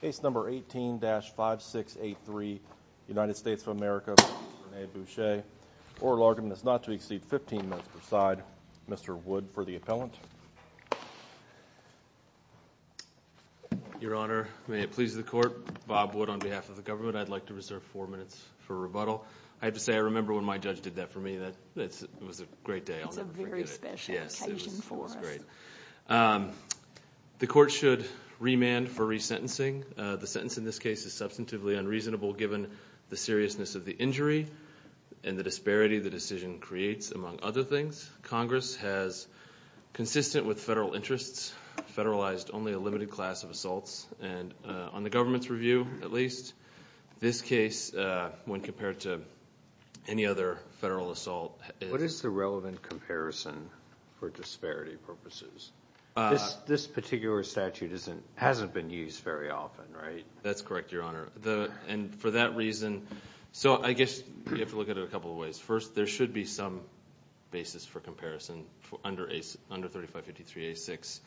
Case number 18-5683, United States of America v. Rene Boucher. Oral argument is not to exceed 15 minutes per side. Mr. Wood for the appellant. Your Honor, may it please the Court, Bob Wood on behalf of the government, I'd like to reserve 4 minutes for rebuttal. I have to say I remember when my judge did that for me. It was a great day. It's a very special occasion for us. The Court should remand for resentencing. The sentence in this case is substantively unreasonable given the seriousness of the injury and the disparity the decision creates, among other things. Congress has, consistent with federal interests, federalized only a limited class of assaults. And on the government's review, at least, this case, when compared to any other federal assault... What is the relevant comparison for disparity purposes? This particular statute hasn't been used very often, right? That's correct, Your Honor. And for that reason, so I guess you have to look at it a couple of ways. First, there should be some basis for comparison under 3553A6.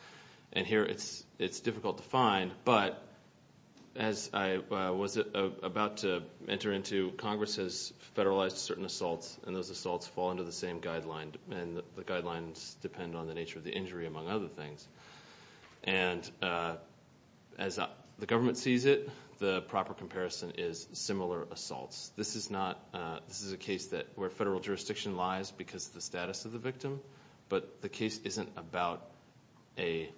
And here it's difficult to find. But as I was about to enter into, Congress has federalized certain assaults and those assaults fall under the same guidelines. And the guidelines depend on the nature of the injury, among other things. And as the government sees it, the proper comparison is similar assaults. This is a case where federal jurisdiction lies because of the status of the victim. But the case isn't about a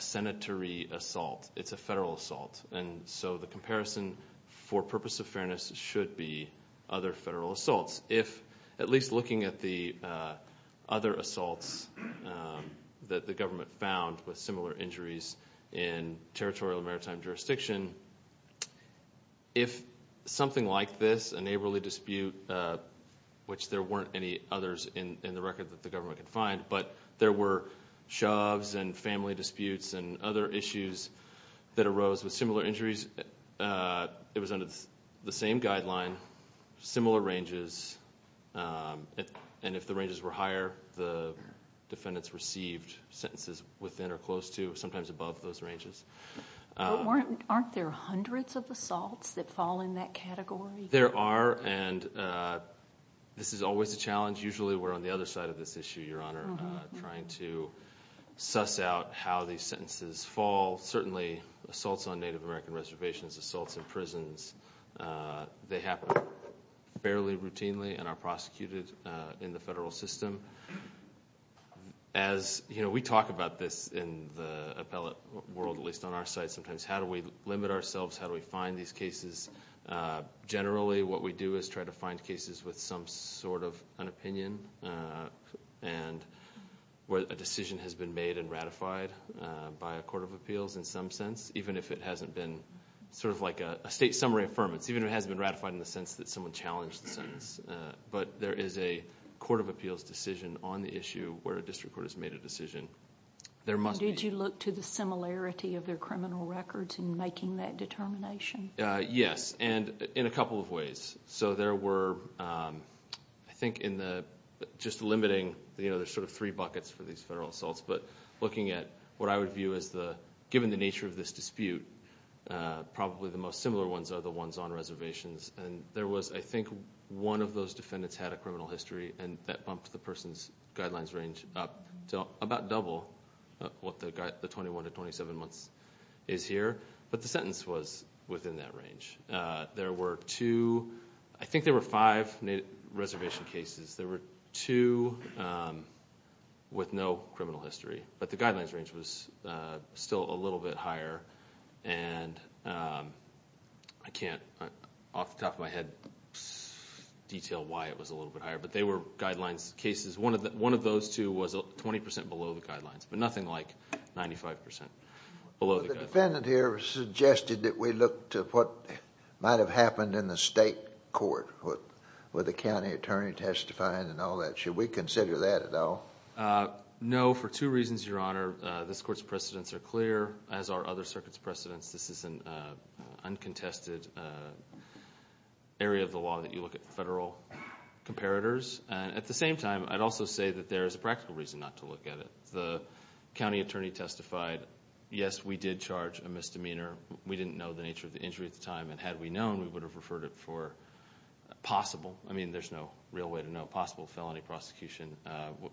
senatorial assault. It's a federal assault. And so the comparison, for purpose of fairness, should be other federal assaults. If, at least looking at the other assaults that the government found with similar injuries in territorial maritime jurisdiction, if something like this, a neighborly dispute, which there weren't any others in the record that the government could find, but there were shoves and family disputes and other issues that arose with similar injuries, it was under the same guideline, similar ranges. And if the ranges were higher, the defendants received sentences within or close to, sometimes above those ranges. Aren't there hundreds of assaults that fall in that category? There are. And this is always a challenge. Usually we're on the other side of this issue, Your Honor, trying to suss out how these sentences fall. Certainly, assaults on Native American reservations, assaults in prisons, they happen fairly routinely and are prosecuted in the federal system. As we talk about this in the appellate world, at least on our side sometimes, how do we limit ourselves? How do we find these cases? Generally, what we do is try to find cases with some sort of an opinion, and where a decision has been made and ratified by a court of appeals in some sense, even if it hasn't been sort of like a state summary affirmance, even if it hasn't been ratified in the sense that someone challenged the sentence. But there is a court of appeals decision on the issue where a district court has made a decision. Did you look to the similarity of their criminal records in making that determination? Yes, and in a couple of ways. So there were, I think, in the just limiting, you know, there's sort of three buckets for these federal assaults, but looking at what I would view as the, given the nature of this dispute, probably the most similar ones are the ones on reservations. And there was, I think, one of those defendants had a criminal history, and that bumped the person's guidelines range up to about double what the 21 to 27 months is here. But the sentence was within that range. There were two, I think there were five reservation cases. There were two with no criminal history, but the guidelines range was still a little bit higher. And I can't, off the top of my head, detail why it was a little bit higher, but they were guidelines cases. One of those two was 20% below the guidelines, but nothing like 95% below the guidelines. The defendant here suggested that we look to what might have happened in the state court with the county attorney testifying and all that. Should we consider that at all? No, for two reasons, your honor. This court's precedents are clear, as are other circuits' precedents. This is an uncontested area of the law that you look at federal comparators. And at the same time, I'd also say that there is a practical reason not to look at it. The county attorney testified, yes, we did charge a misdemeanor. We didn't know the nature of the injury at the time, and had we known, we would have referred it for possible. I mean, there's no real way to know. Possible felony prosecution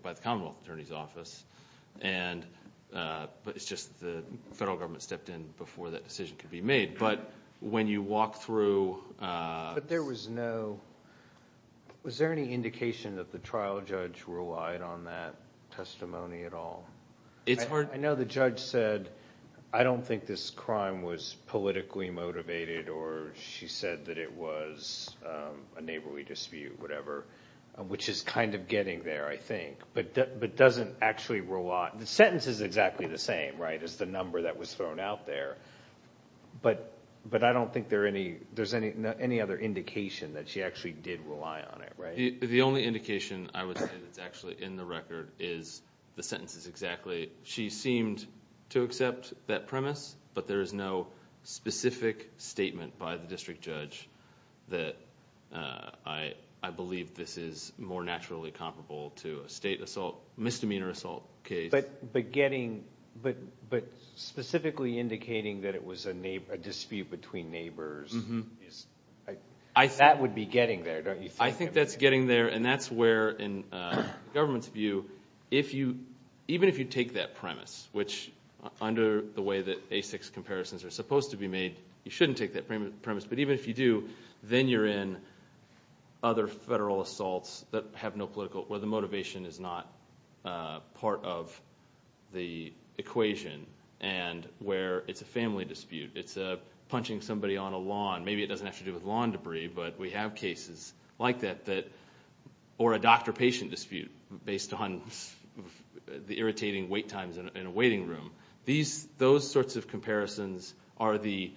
by the Commonwealth Attorney's Office. But it's just the federal government stepped in before that decision could be made. But when you walk through- But there was no, was there any indication that the trial judge relied on that testimony at all? I know the judge said, I don't think this crime was politically motivated, or she said that it was a neighborly dispute, whatever, which is kind of getting there, I think. But doesn't actually rely, the sentence is exactly the same, right, as the number that was thrown out there. But I don't think there's any other indication that she actually did rely on it, right? The only indication I would say that's actually in the record is the sentence is exactly, she seemed to accept that premise, but there is no specific statement by the district judge that I believe this is more naturally comparable to a state assault, misdemeanor assault case. But getting, but specifically indicating that it was a dispute between neighbors, that would be getting there, don't you think? I think that's getting there, and that's where in government's view, even if you take that premise, which under the way that basic comparisons are supposed to be made, you shouldn't take that premise. But even if you do, then you're in other federal assaults that have no political, where the motivation is not part of the equation. And where it's a family dispute, it's a punching somebody on a lawn. Maybe it doesn't have to do with lawn debris, but we have cases like that that, or a doctor patient dispute based on the irritating wait times in a waiting room. Those sorts of comparisons are the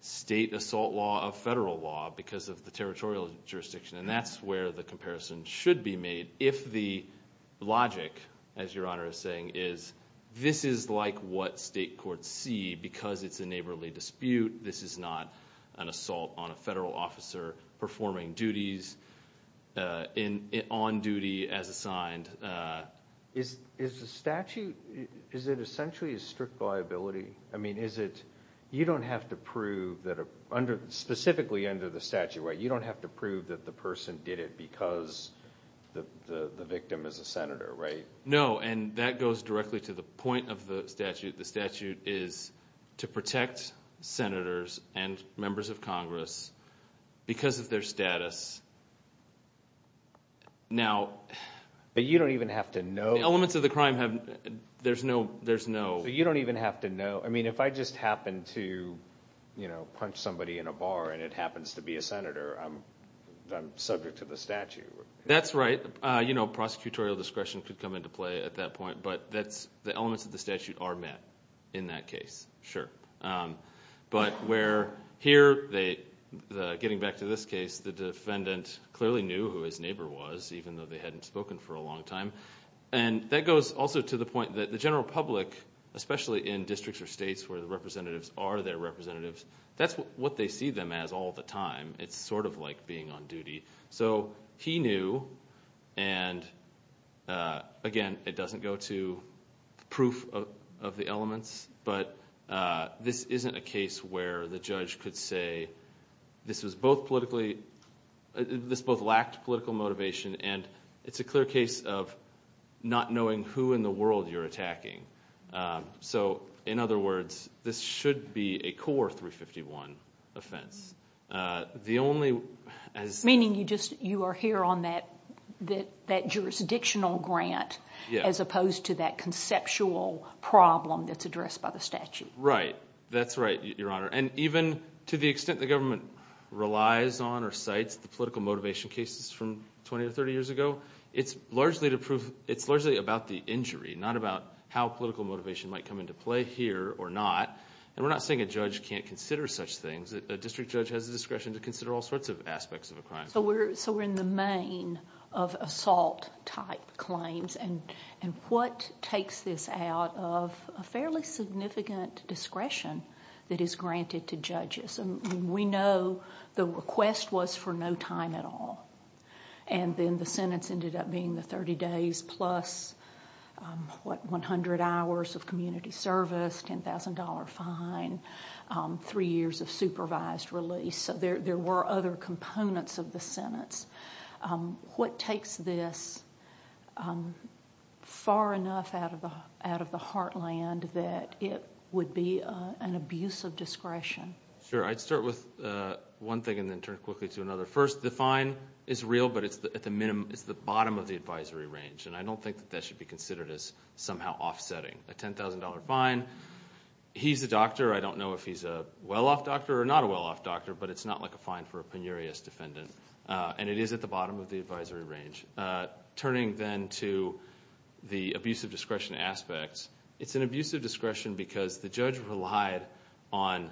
state assault law of federal law because of the territorial jurisdiction. And that's where the comparison should be made if the logic, as your honor is saying, is this is like what state courts see because it's a neighborly dispute. This is not an assault on a federal officer performing duties on duty as assigned. Is the statute, is it essentially a strict liability? I mean, is it, you don't have to prove that under, specifically under the statute, right? You don't have to prove that the person did it because the victim is a senator, right? No, and that goes directly to the point of the statute. The statute is to protect senators and members of Congress because of their status. Now- But you don't even have to know- The elements of the crime have, there's no- So you don't even have to know, I mean, if I just happen to, you know, punch somebody in a bar and it happens to be a senator, I'm subject to the statute. That's right. You know, prosecutorial discretion could come into play at that point, but that's, the elements of the statute are met in that case, sure. But where here, they, getting back to this case, the defendant clearly knew who his neighbor was, even though they hadn't spoken for a long time. And that goes also to the point that the general public, especially in districts or states where the representatives are their representatives, that's what they see them as all the time. It's sort of like being on duty. So, he knew, and again, it doesn't go to proof of the elements, but this isn't a case where the judge could say, this was both politically, this both lacked political motivation and it's a clear case of not knowing who in the world you're attacking. So, in other words, this should be a core 351 offense. The only- Meaning you just, you are here on that jurisdictional grant as opposed to that conceptual problem that's addressed by the statute. Right. That's right, Your Honor. And even to the extent the government relies on or cites the political motivation cases from 20 or 30 years ago, it's largely about the injury, not about how political motivation might come into play here or not. And we're not saying a judge can't consider such things. A district judge has the discretion to consider all sorts of aspects of a crime. So, we're in the main of assault type claims. And what takes this out of a fairly significant discretion that is granted to judges? And we know the request was for no time at all. And then the sentence ended up being the 30 days plus, what, 100 hours of community service, $10,000 fine, three years of supervised release. So, there were other components of the sentence. What takes this far enough out of the heartland that it would be an abuse of discretion? Sure. I'd start with one thing and then turn quickly to another. First, the fine is real, but it's at the bottom of the advisory range. And I don't think that that should be considered as somehow offsetting. A $10,000 fine, he's a doctor. I don't know if he's a well-off doctor or not a well-off doctor, but it's not like a fine for a penurious defendant. And it is at the bottom of the advisory range. Turning then to the abuse of discretion aspects, it's an abuse of discretion because the judge relied on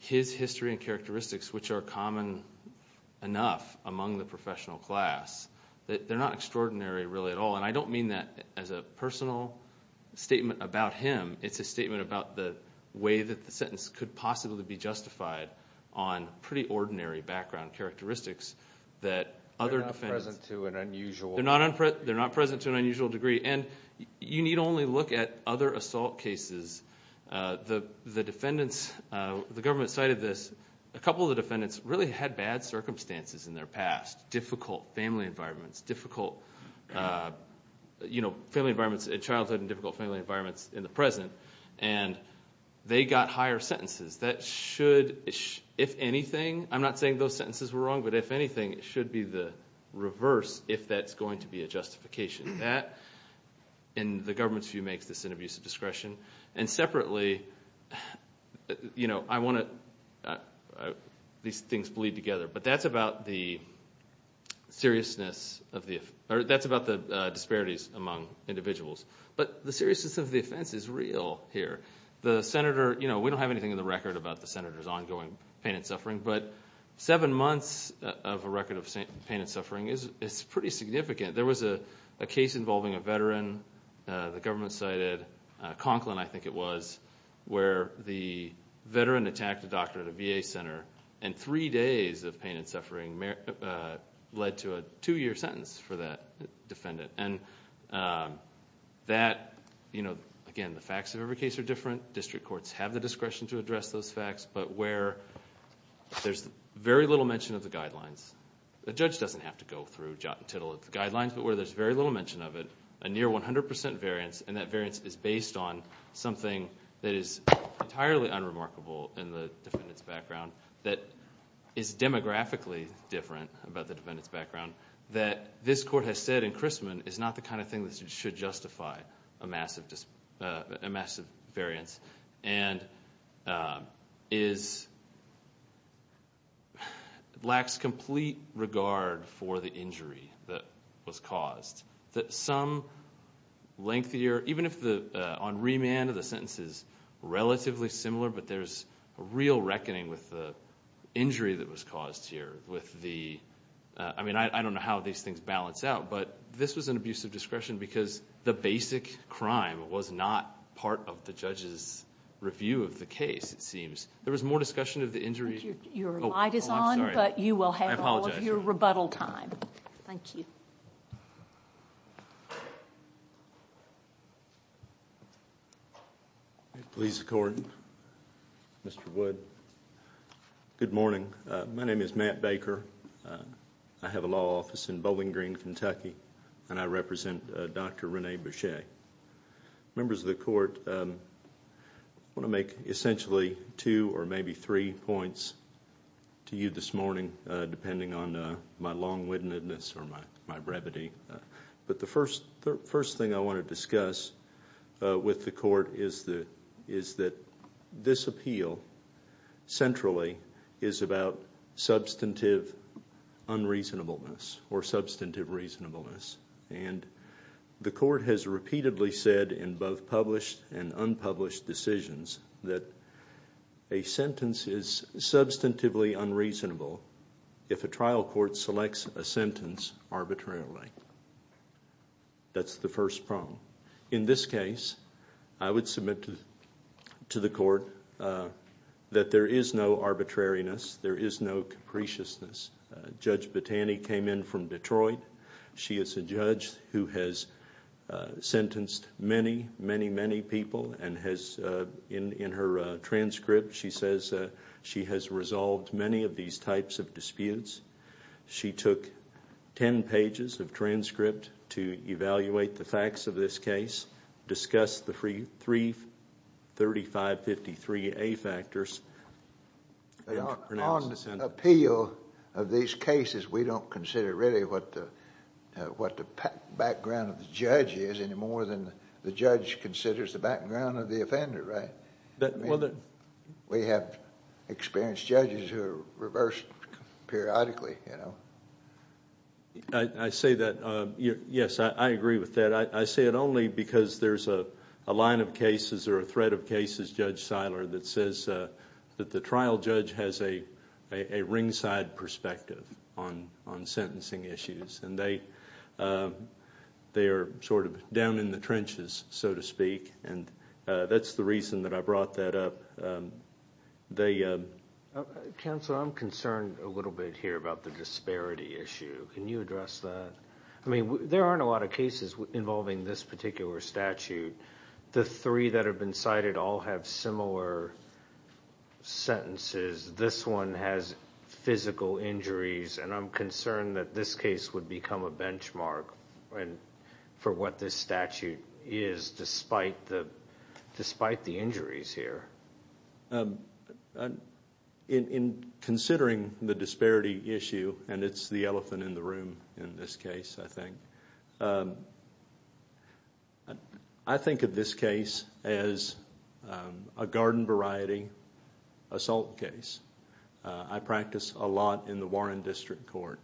his history and characteristics, which are common enough among the professional class, that they're not extraordinary really at all. And I don't mean that as a personal statement about him. It's a statement about the way that the sentence could possibly be justified on pretty ordinary background characteristics that other defendants... They're not present to an unusual degree. And you need only look at other assault cases. The defendants, the government cited this, a couple of the defendants really had bad circumstances in their past. Difficult family environments, difficult family environments in childhood and difficult family environments in the present. And they got higher sentences. That should, if anything, I'm not saying those sentences were wrong, but if anything, it should be the reverse if that's going to be a justification. That, in the government's view, makes this an abuse of discretion. And separately, I want to, these things bleed together. But that's about the seriousness of the, that's about the disparities among individuals. But the seriousness of the offense is real here. The senator, we don't have anything in the record about the senator's ongoing pain and suffering. But seven months of a record of pain and suffering is pretty significant. There was a case involving a veteran, the government cited Conklin, I think it was, where the veteran attacked a doctor at a VA center and three days of pain and suffering led to a two-year sentence for that defendant. And that, you know, again, the facts of every case are different. District courts have the discretion to address those facts, but where there's very little mention of the guidelines. The judge doesn't have to go through jot and tittle of the guidelines, but where there's very little mention of it, a near 100% variance, and that variance is based on something that is entirely unremarkable in the defendant's background, that is demographically different about the defendant's background, that this court has said in Christman is not the kind of thing that should justify a massive variance. And is, lacks complete regard for the injury that was caused. That some lengthier, even if the, on remand of the sentence is relatively similar, but there's a real reckoning with the injury that was caused here with the, I mean, I don't know how these things balance out. But this was an abuse of discretion because the basic crime was not part of the judge's review of the case, it seems. There was more discussion of the injury. Your light is on, but you will have all of your rebuttal time. Thank you. Police court, Mr. Wood, good morning. My name is Matt Baker. I have a law office in Bowling Green, Kentucky, and I represent Dr. Rene Bechet. Members of the court, I want to make essentially two or maybe three points to you this morning, depending on my long-wittedness or my brevity. But the first thing I want to discuss with the court is that this appeal, centrally, is about substantive unreasonableness or substantive reasonableness. And the court has repeatedly said in both published and unpublished decisions that a sentence is substantively unreasonable if a trial court selects a sentence arbitrarily. That's the first problem. In this case, I would submit to the court that there is no arbitrariness. There is no capriciousness. Judge Battani came in from Detroit. She is a judge who has sentenced many, many, many people and has, in her transcript, she says she has resolved many of these types of disputes. She took 10 pages of transcript to evaluate the facts of this case, discussed the three 3553A factors. On the appeal of these cases, we don't consider really what the background of the judge is any more than the judge considers the background of the offender, right? We have experienced judges who are reversed periodically, you know. I say that, yes, I agree with that. I say it only because there's a line of cases or a thread of cases, Judge Seiler, that says that the trial judge has a ringside perspective on sentencing issues. And they are sort of down in the trenches, so to speak. And that's the reason that I brought that up. Counsel, I'm concerned a little bit here about the disparity issue. Can you address that? I mean, there aren't a lot of cases involving this particular statute. The three that have been cited all have similar sentences. This one has physical injuries. And I'm concerned that this case would become a benchmark for what this statute is, despite the injuries here. In considering the disparity issue, and it's the elephant in the room in this case, I think. I think of this case as a garden variety assault case. I practice a lot in the Warren District Court.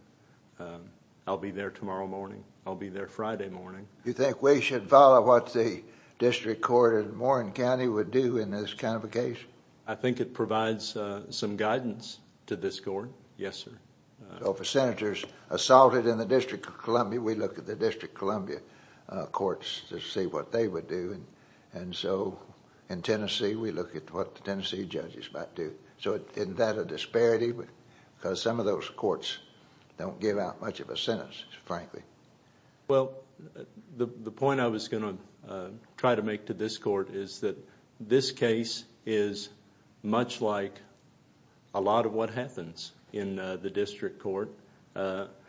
I'll be there tomorrow morning. I'll be there Friday morning. You think we should follow what the District Court in Warren County would do in this kind of a case? I think it provides some guidance to this court, yes, sir. So for Senators assaulted in the District of Columbia, we look at the District of Columbia courts to see what they would do. And so in Tennessee, we look at what the Tennessee judges might do. So isn't that a disparity? Because some of those courts don't give out much of a sentence, frankly. Well, the point I was going to try to make to this court is that this case is much like a lot of what happens in the District Court.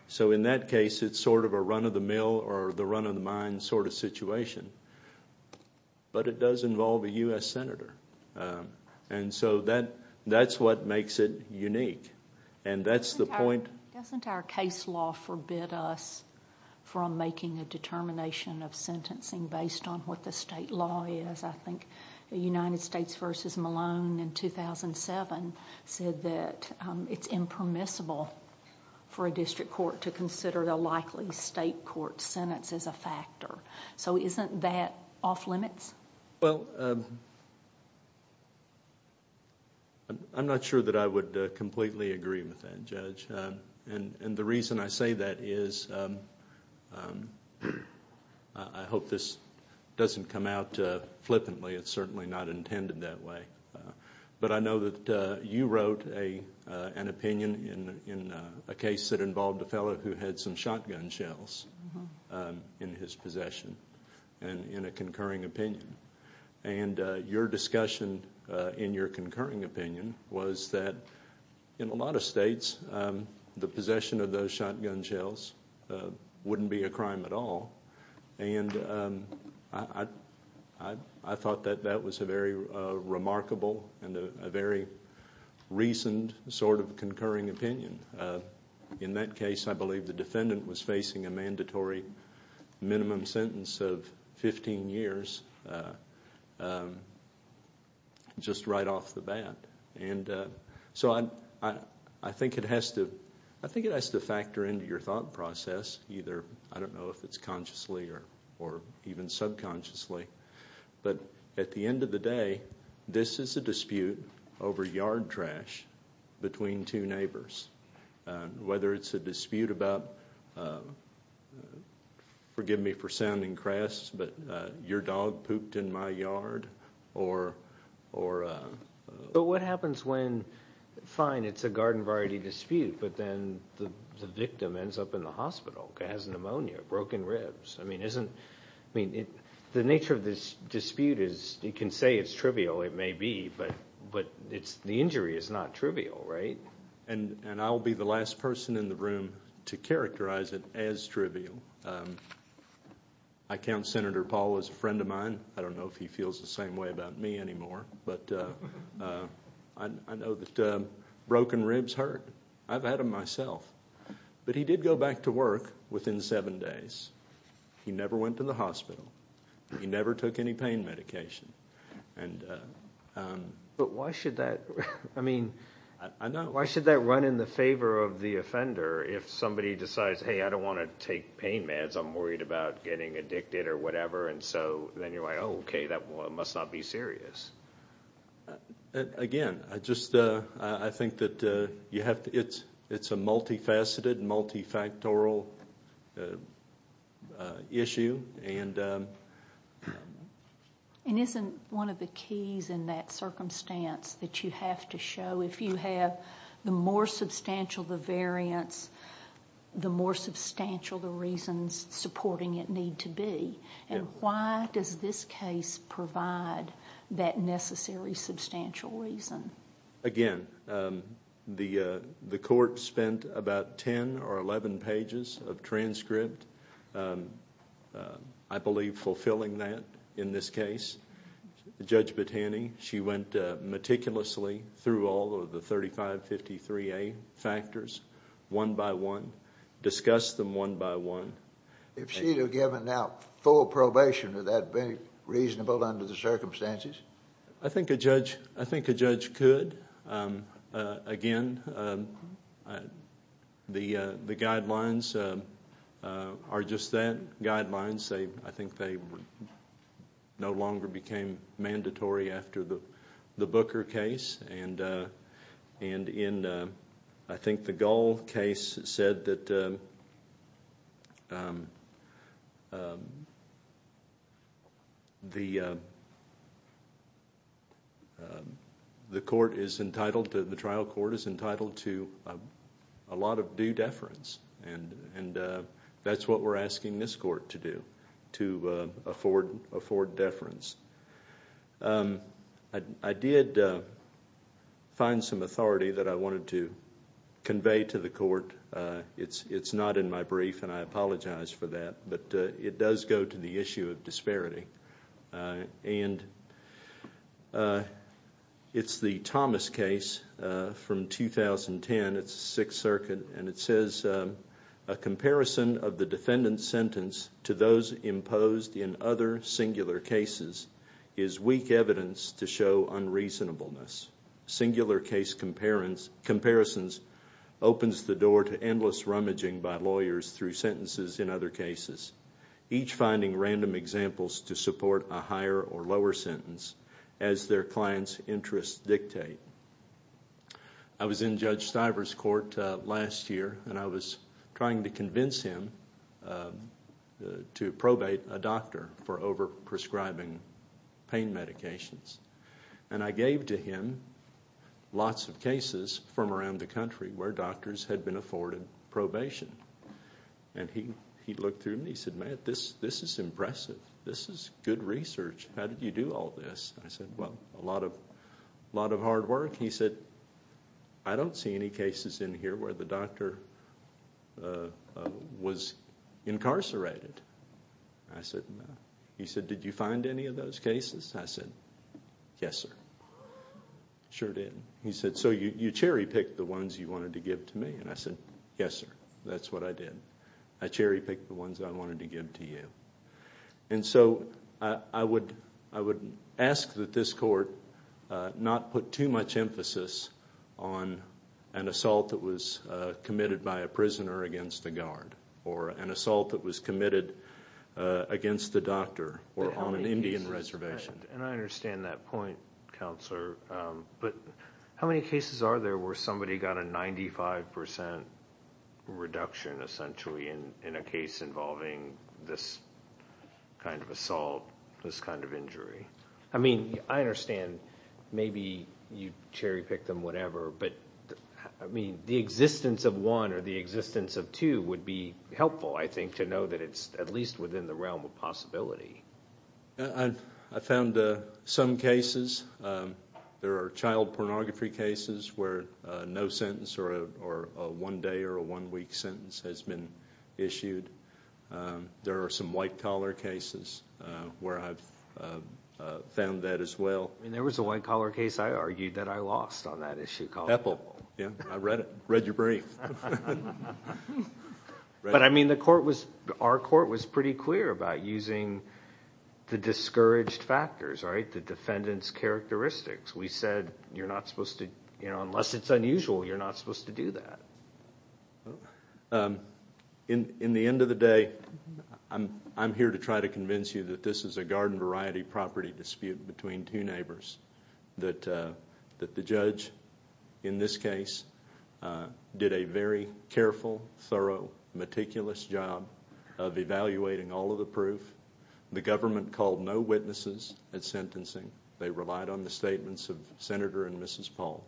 So in that case, it's sort of a run-of-the-mill or the run-of-the-mind sort of situation. But it does involve a U.S. Senator. And so that's what makes it unique. And that's the point— Doesn't our case law forbid us from making a determination of sentencing based on what the state law is? I think the United States v. Malone in 2007 said that it's impermissible for a district court to consider the likely state court sentence as a factor. So isn't that off-limits? Well, I'm not sure that I would completely agree with that, Judge. And the reason I say that is— I hope this doesn't come out flippantly. It's certainly not intended that way. But I know that you wrote an opinion in a case that involved a fellow who had some shotgun shells in his possession, in a concurring opinion. And your discussion in your concurring opinion was that in a lot of states, the possession of those shotgun shells wouldn't be a crime at all. And I thought that that was a very remarkable and a very recent sort of concurring opinion. In that case, I believe the defendant was facing a mandatory minimum sentence of 15 years just right off the bat. And so I think it has to—I think it has to factor into your thought process, either—I don't know if it's consciously or even subconsciously. But at the end of the day, this is a dispute over yard trash between two neighbors. Whether it's a dispute about—forgive me for sounding crass, but your dog pooped in my yard or— But what happens when—fine, it's a garden variety dispute, but then the victim ends up in the hospital, has pneumonia, broken ribs. I mean, isn't—I mean, the nature of this dispute is— you can say it's trivial, it may be, but the injury is not trivial, right? And I'll be the last person in the room to characterize it as trivial. I count Senator Paul as a friend of mine. I don't know if he feels the same way about me anymore, but I know that broken ribs hurt. I've had them myself. But he did go back to work within seven days. He never went to the hospital. He never took any pain medication. But why should that—I mean, why should that run in the favor of the offender if somebody decides, hey, I don't want to take pain meds, I'm worried about getting addicted or whatever, and so then you're like, oh, okay, that must not be serious. Again, I just—I think that you have to— it's a multifaceted, multifactorial issue, and— And isn't one of the keys in that circumstance that you have to show if you have the more substantial the variance, the more substantial the reasons supporting it need to be? And why does this case provide that necessary substantial reason? Again, the court spent about 10 or 11 pages of transcript, I believe, fulfilling that in this case. Judge Battani, she went meticulously through all of the 3553A factors one by one, discussed them one by one. If she were given now full probation, would that be reasonable under the circumstances? I think a judge—I think a judge could. Again, the guidelines are just that. Guidelines, I think they no longer became mandatory after the Booker case. And in, I think, the Gull case said that the court is entitled to— the trial court is entitled to a lot of due deference, and that's what we're asking this court to do, to afford deference. I did find some authority that I wanted to convey to the court. It's not in my brief, and I apologize for that. But it does go to the issue of disparity. And it's the Thomas case from 2010. It's the Sixth Circuit, and it says, A comparison of the defendant's sentence to those imposed in other singular cases is weak evidence to show unreasonableness. Singular case comparisons opens the door to endless rummaging by lawyers through sentences in other cases, each finding random examples to support a higher or lower sentence as their client's interests dictate. I was in Judge Stiver's court last year, and I was trying to convince him to probate a doctor for over-prescribing pain medications. And I gave to him lots of cases from around the country where doctors had been afforded probation. And he looked through them, and he said, Man, this is impressive. This is good research. How did you do all this? I said, Well, a lot of hard work. He said, I don't see any cases in here where the doctor was incarcerated. I said, No. He said, Did you find any of those cases? I said, Yes, sir. Sure did. He said, So you cherry-picked the ones you wanted to give to me? And I said, Yes, sir. That's what I did. I cherry-picked the ones I wanted to give to you. And so I would ask that this court not put too much emphasis on an assault that was committed by a prisoner against a guard, or an assault that was committed against a doctor, or on an Indian reservation. And I understand that point, Counselor. But how many cases are there where somebody got a 95% reduction, essentially, in a case involving this kind of assault, this kind of injury? I mean, I understand. Maybe you cherry-picked them, whatever. But I mean, the existence of one or the existence of two would be helpful, I think, to know that it's at least within the realm of possibility. I found some cases. There are child pornography cases where no sentence or a one-day or a one-week sentence has been issued. There are some white-collar cases where I've found that as well. I mean, there was a white-collar case I argued that I lost on that issue. Pepple. Yeah, I read it. Read your brief. But I mean, our court was pretty clear about using the discouraged factors, right? The defendant's characteristics. We said you're not supposed to, you know, unless it's unusual, you're not supposed to do that. In the end of the day, I'm here to try to convince you that this is a garden-variety-property dispute between two neighbors, that the judge, in this case, did a very careful, thorough, meticulous job of evaluating all of the proof. The government called no witnesses at sentencing. They relied on the statements of Senator and Mrs. Paul.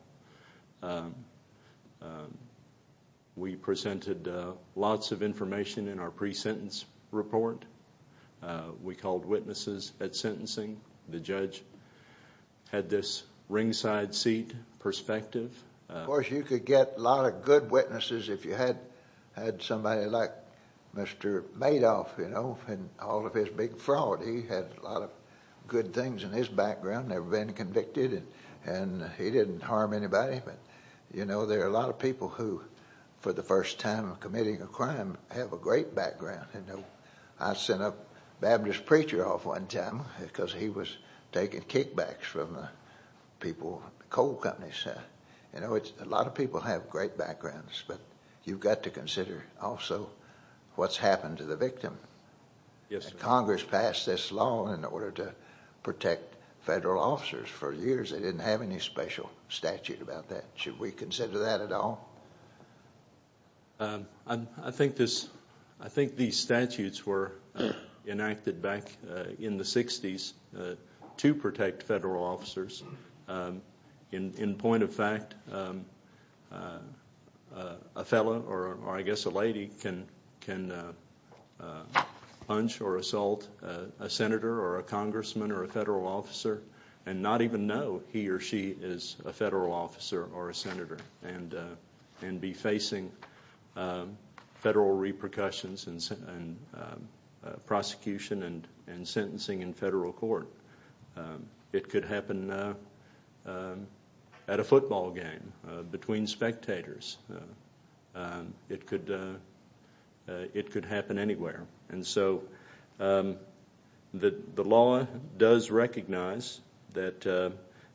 We presented lots of information in our pre-sentence report. We called witnesses at sentencing. The judge had this ringside seat perspective. Of course, you could get a lot of good witnesses if you had somebody like Mr. Madoff, you know, and all of his big fraud. He had a lot of good things in his background, never been convicted, and he didn't harm anybody. But, you know, there are a lot of people who, for the first time committing a crime, have a great background. I sent up Baptist Preacher off one time because he was taking kickbacks from people, coal companies. You know, a lot of people have great backgrounds, but you've got to consider also what's happened to the victim. Congress passed this law in order to protect federal officers. For years they didn't have any special statute about that. Should we consider that at all? I think these statutes were enacted back in the 60s to protect federal officers. In point of fact, a fellow or, I guess, a lady can punch or assault a senator or a congressman or a federal officer and not even know he or she is a federal officer or a senator and be facing federal repercussions and prosecution and sentencing in federal court. It could happen at a football game between spectators. It could happen anywhere. And so the law does recognize that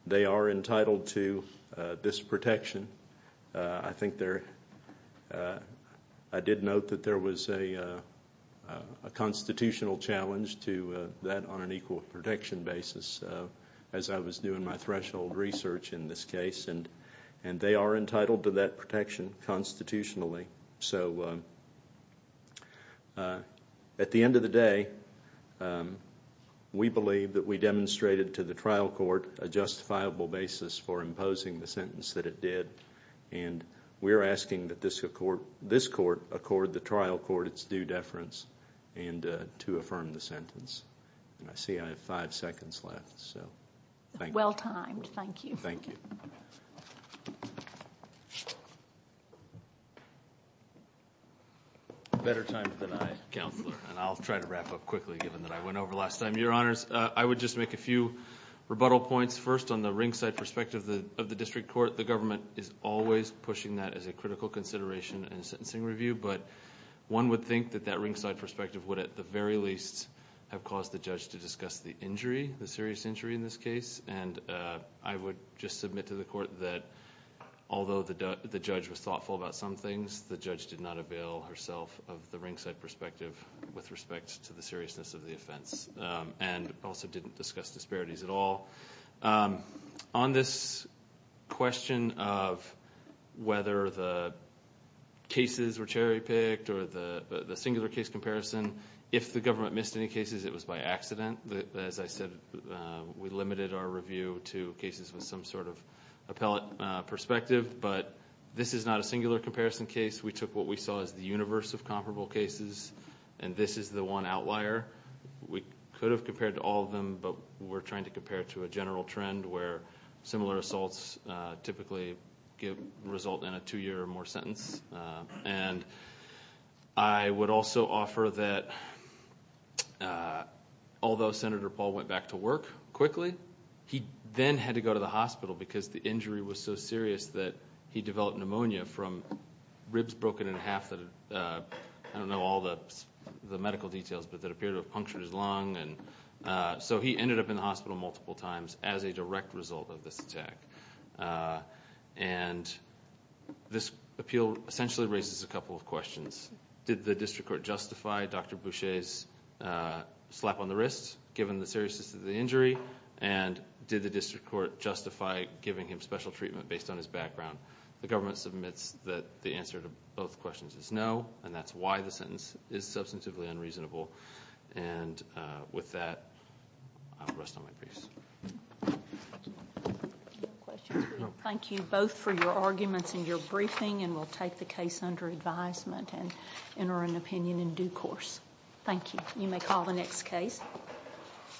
they are entitled to this protection. I did note that there was a constitutional challenge to that on an equal protection basis as I was doing my threshold research in this case, and they are entitled to that protection constitutionally. So at the end of the day, we believe that we demonstrated to the trial court a justifiable basis for imposing the sentence that it did, and we are asking that this court accord the trial court its due deference and to affirm the sentence. I see I have five seconds left, so thank you. Well timed. Thank you. Thank you. Better timed than I, Counselor, and I'll try to wrap up quickly given that I went over last time. Thank you, Your Honors. I would just make a few rebuttal points. First, on the ringside perspective of the district court, the government is always pushing that as a critical consideration in a sentencing review, but one would think that that ringside perspective would at the very least have caused the judge to discuss the injury, the serious injury in this case. And I would just submit to the court that although the judge was thoughtful about some things, the judge did not avail herself of the ringside perspective with respect to the seriousness of the offense and also didn't discuss disparities at all. On this question of whether the cases were cherry picked or the singular case comparison, if the government missed any cases, it was by accident. As I said, we limited our review to cases with some sort of appellate perspective, but this is not a singular comparison case. We took what we saw as the universe of comparable cases, and this is the one outlier. We could have compared to all of them, but we're trying to compare to a general trend where similar assaults typically result in a two-year or more sentence. And I would also offer that although Senator Paul went back to work quickly, he then had to go to the hospital because the injury was so serious that he developed pneumonia from ribs broken in half that had, I don't know all the medical details, but that appeared to have punctured his lung. So he ended up in the hospital multiple times as a direct result of this attack. Did the district court justify Dr. Boucher's slap on the wrist given the seriousness of the injury, and did the district court justify giving him special treatment based on his background? The government submits that the answer to both questions is no, and that's why the sentence is substantively unreasonable. And with that, I'll rest on my briefs. Thank you both for your arguments and your briefing, and we'll take the case under advisement and enter an opinion in due course. Thank you. You may call the next case.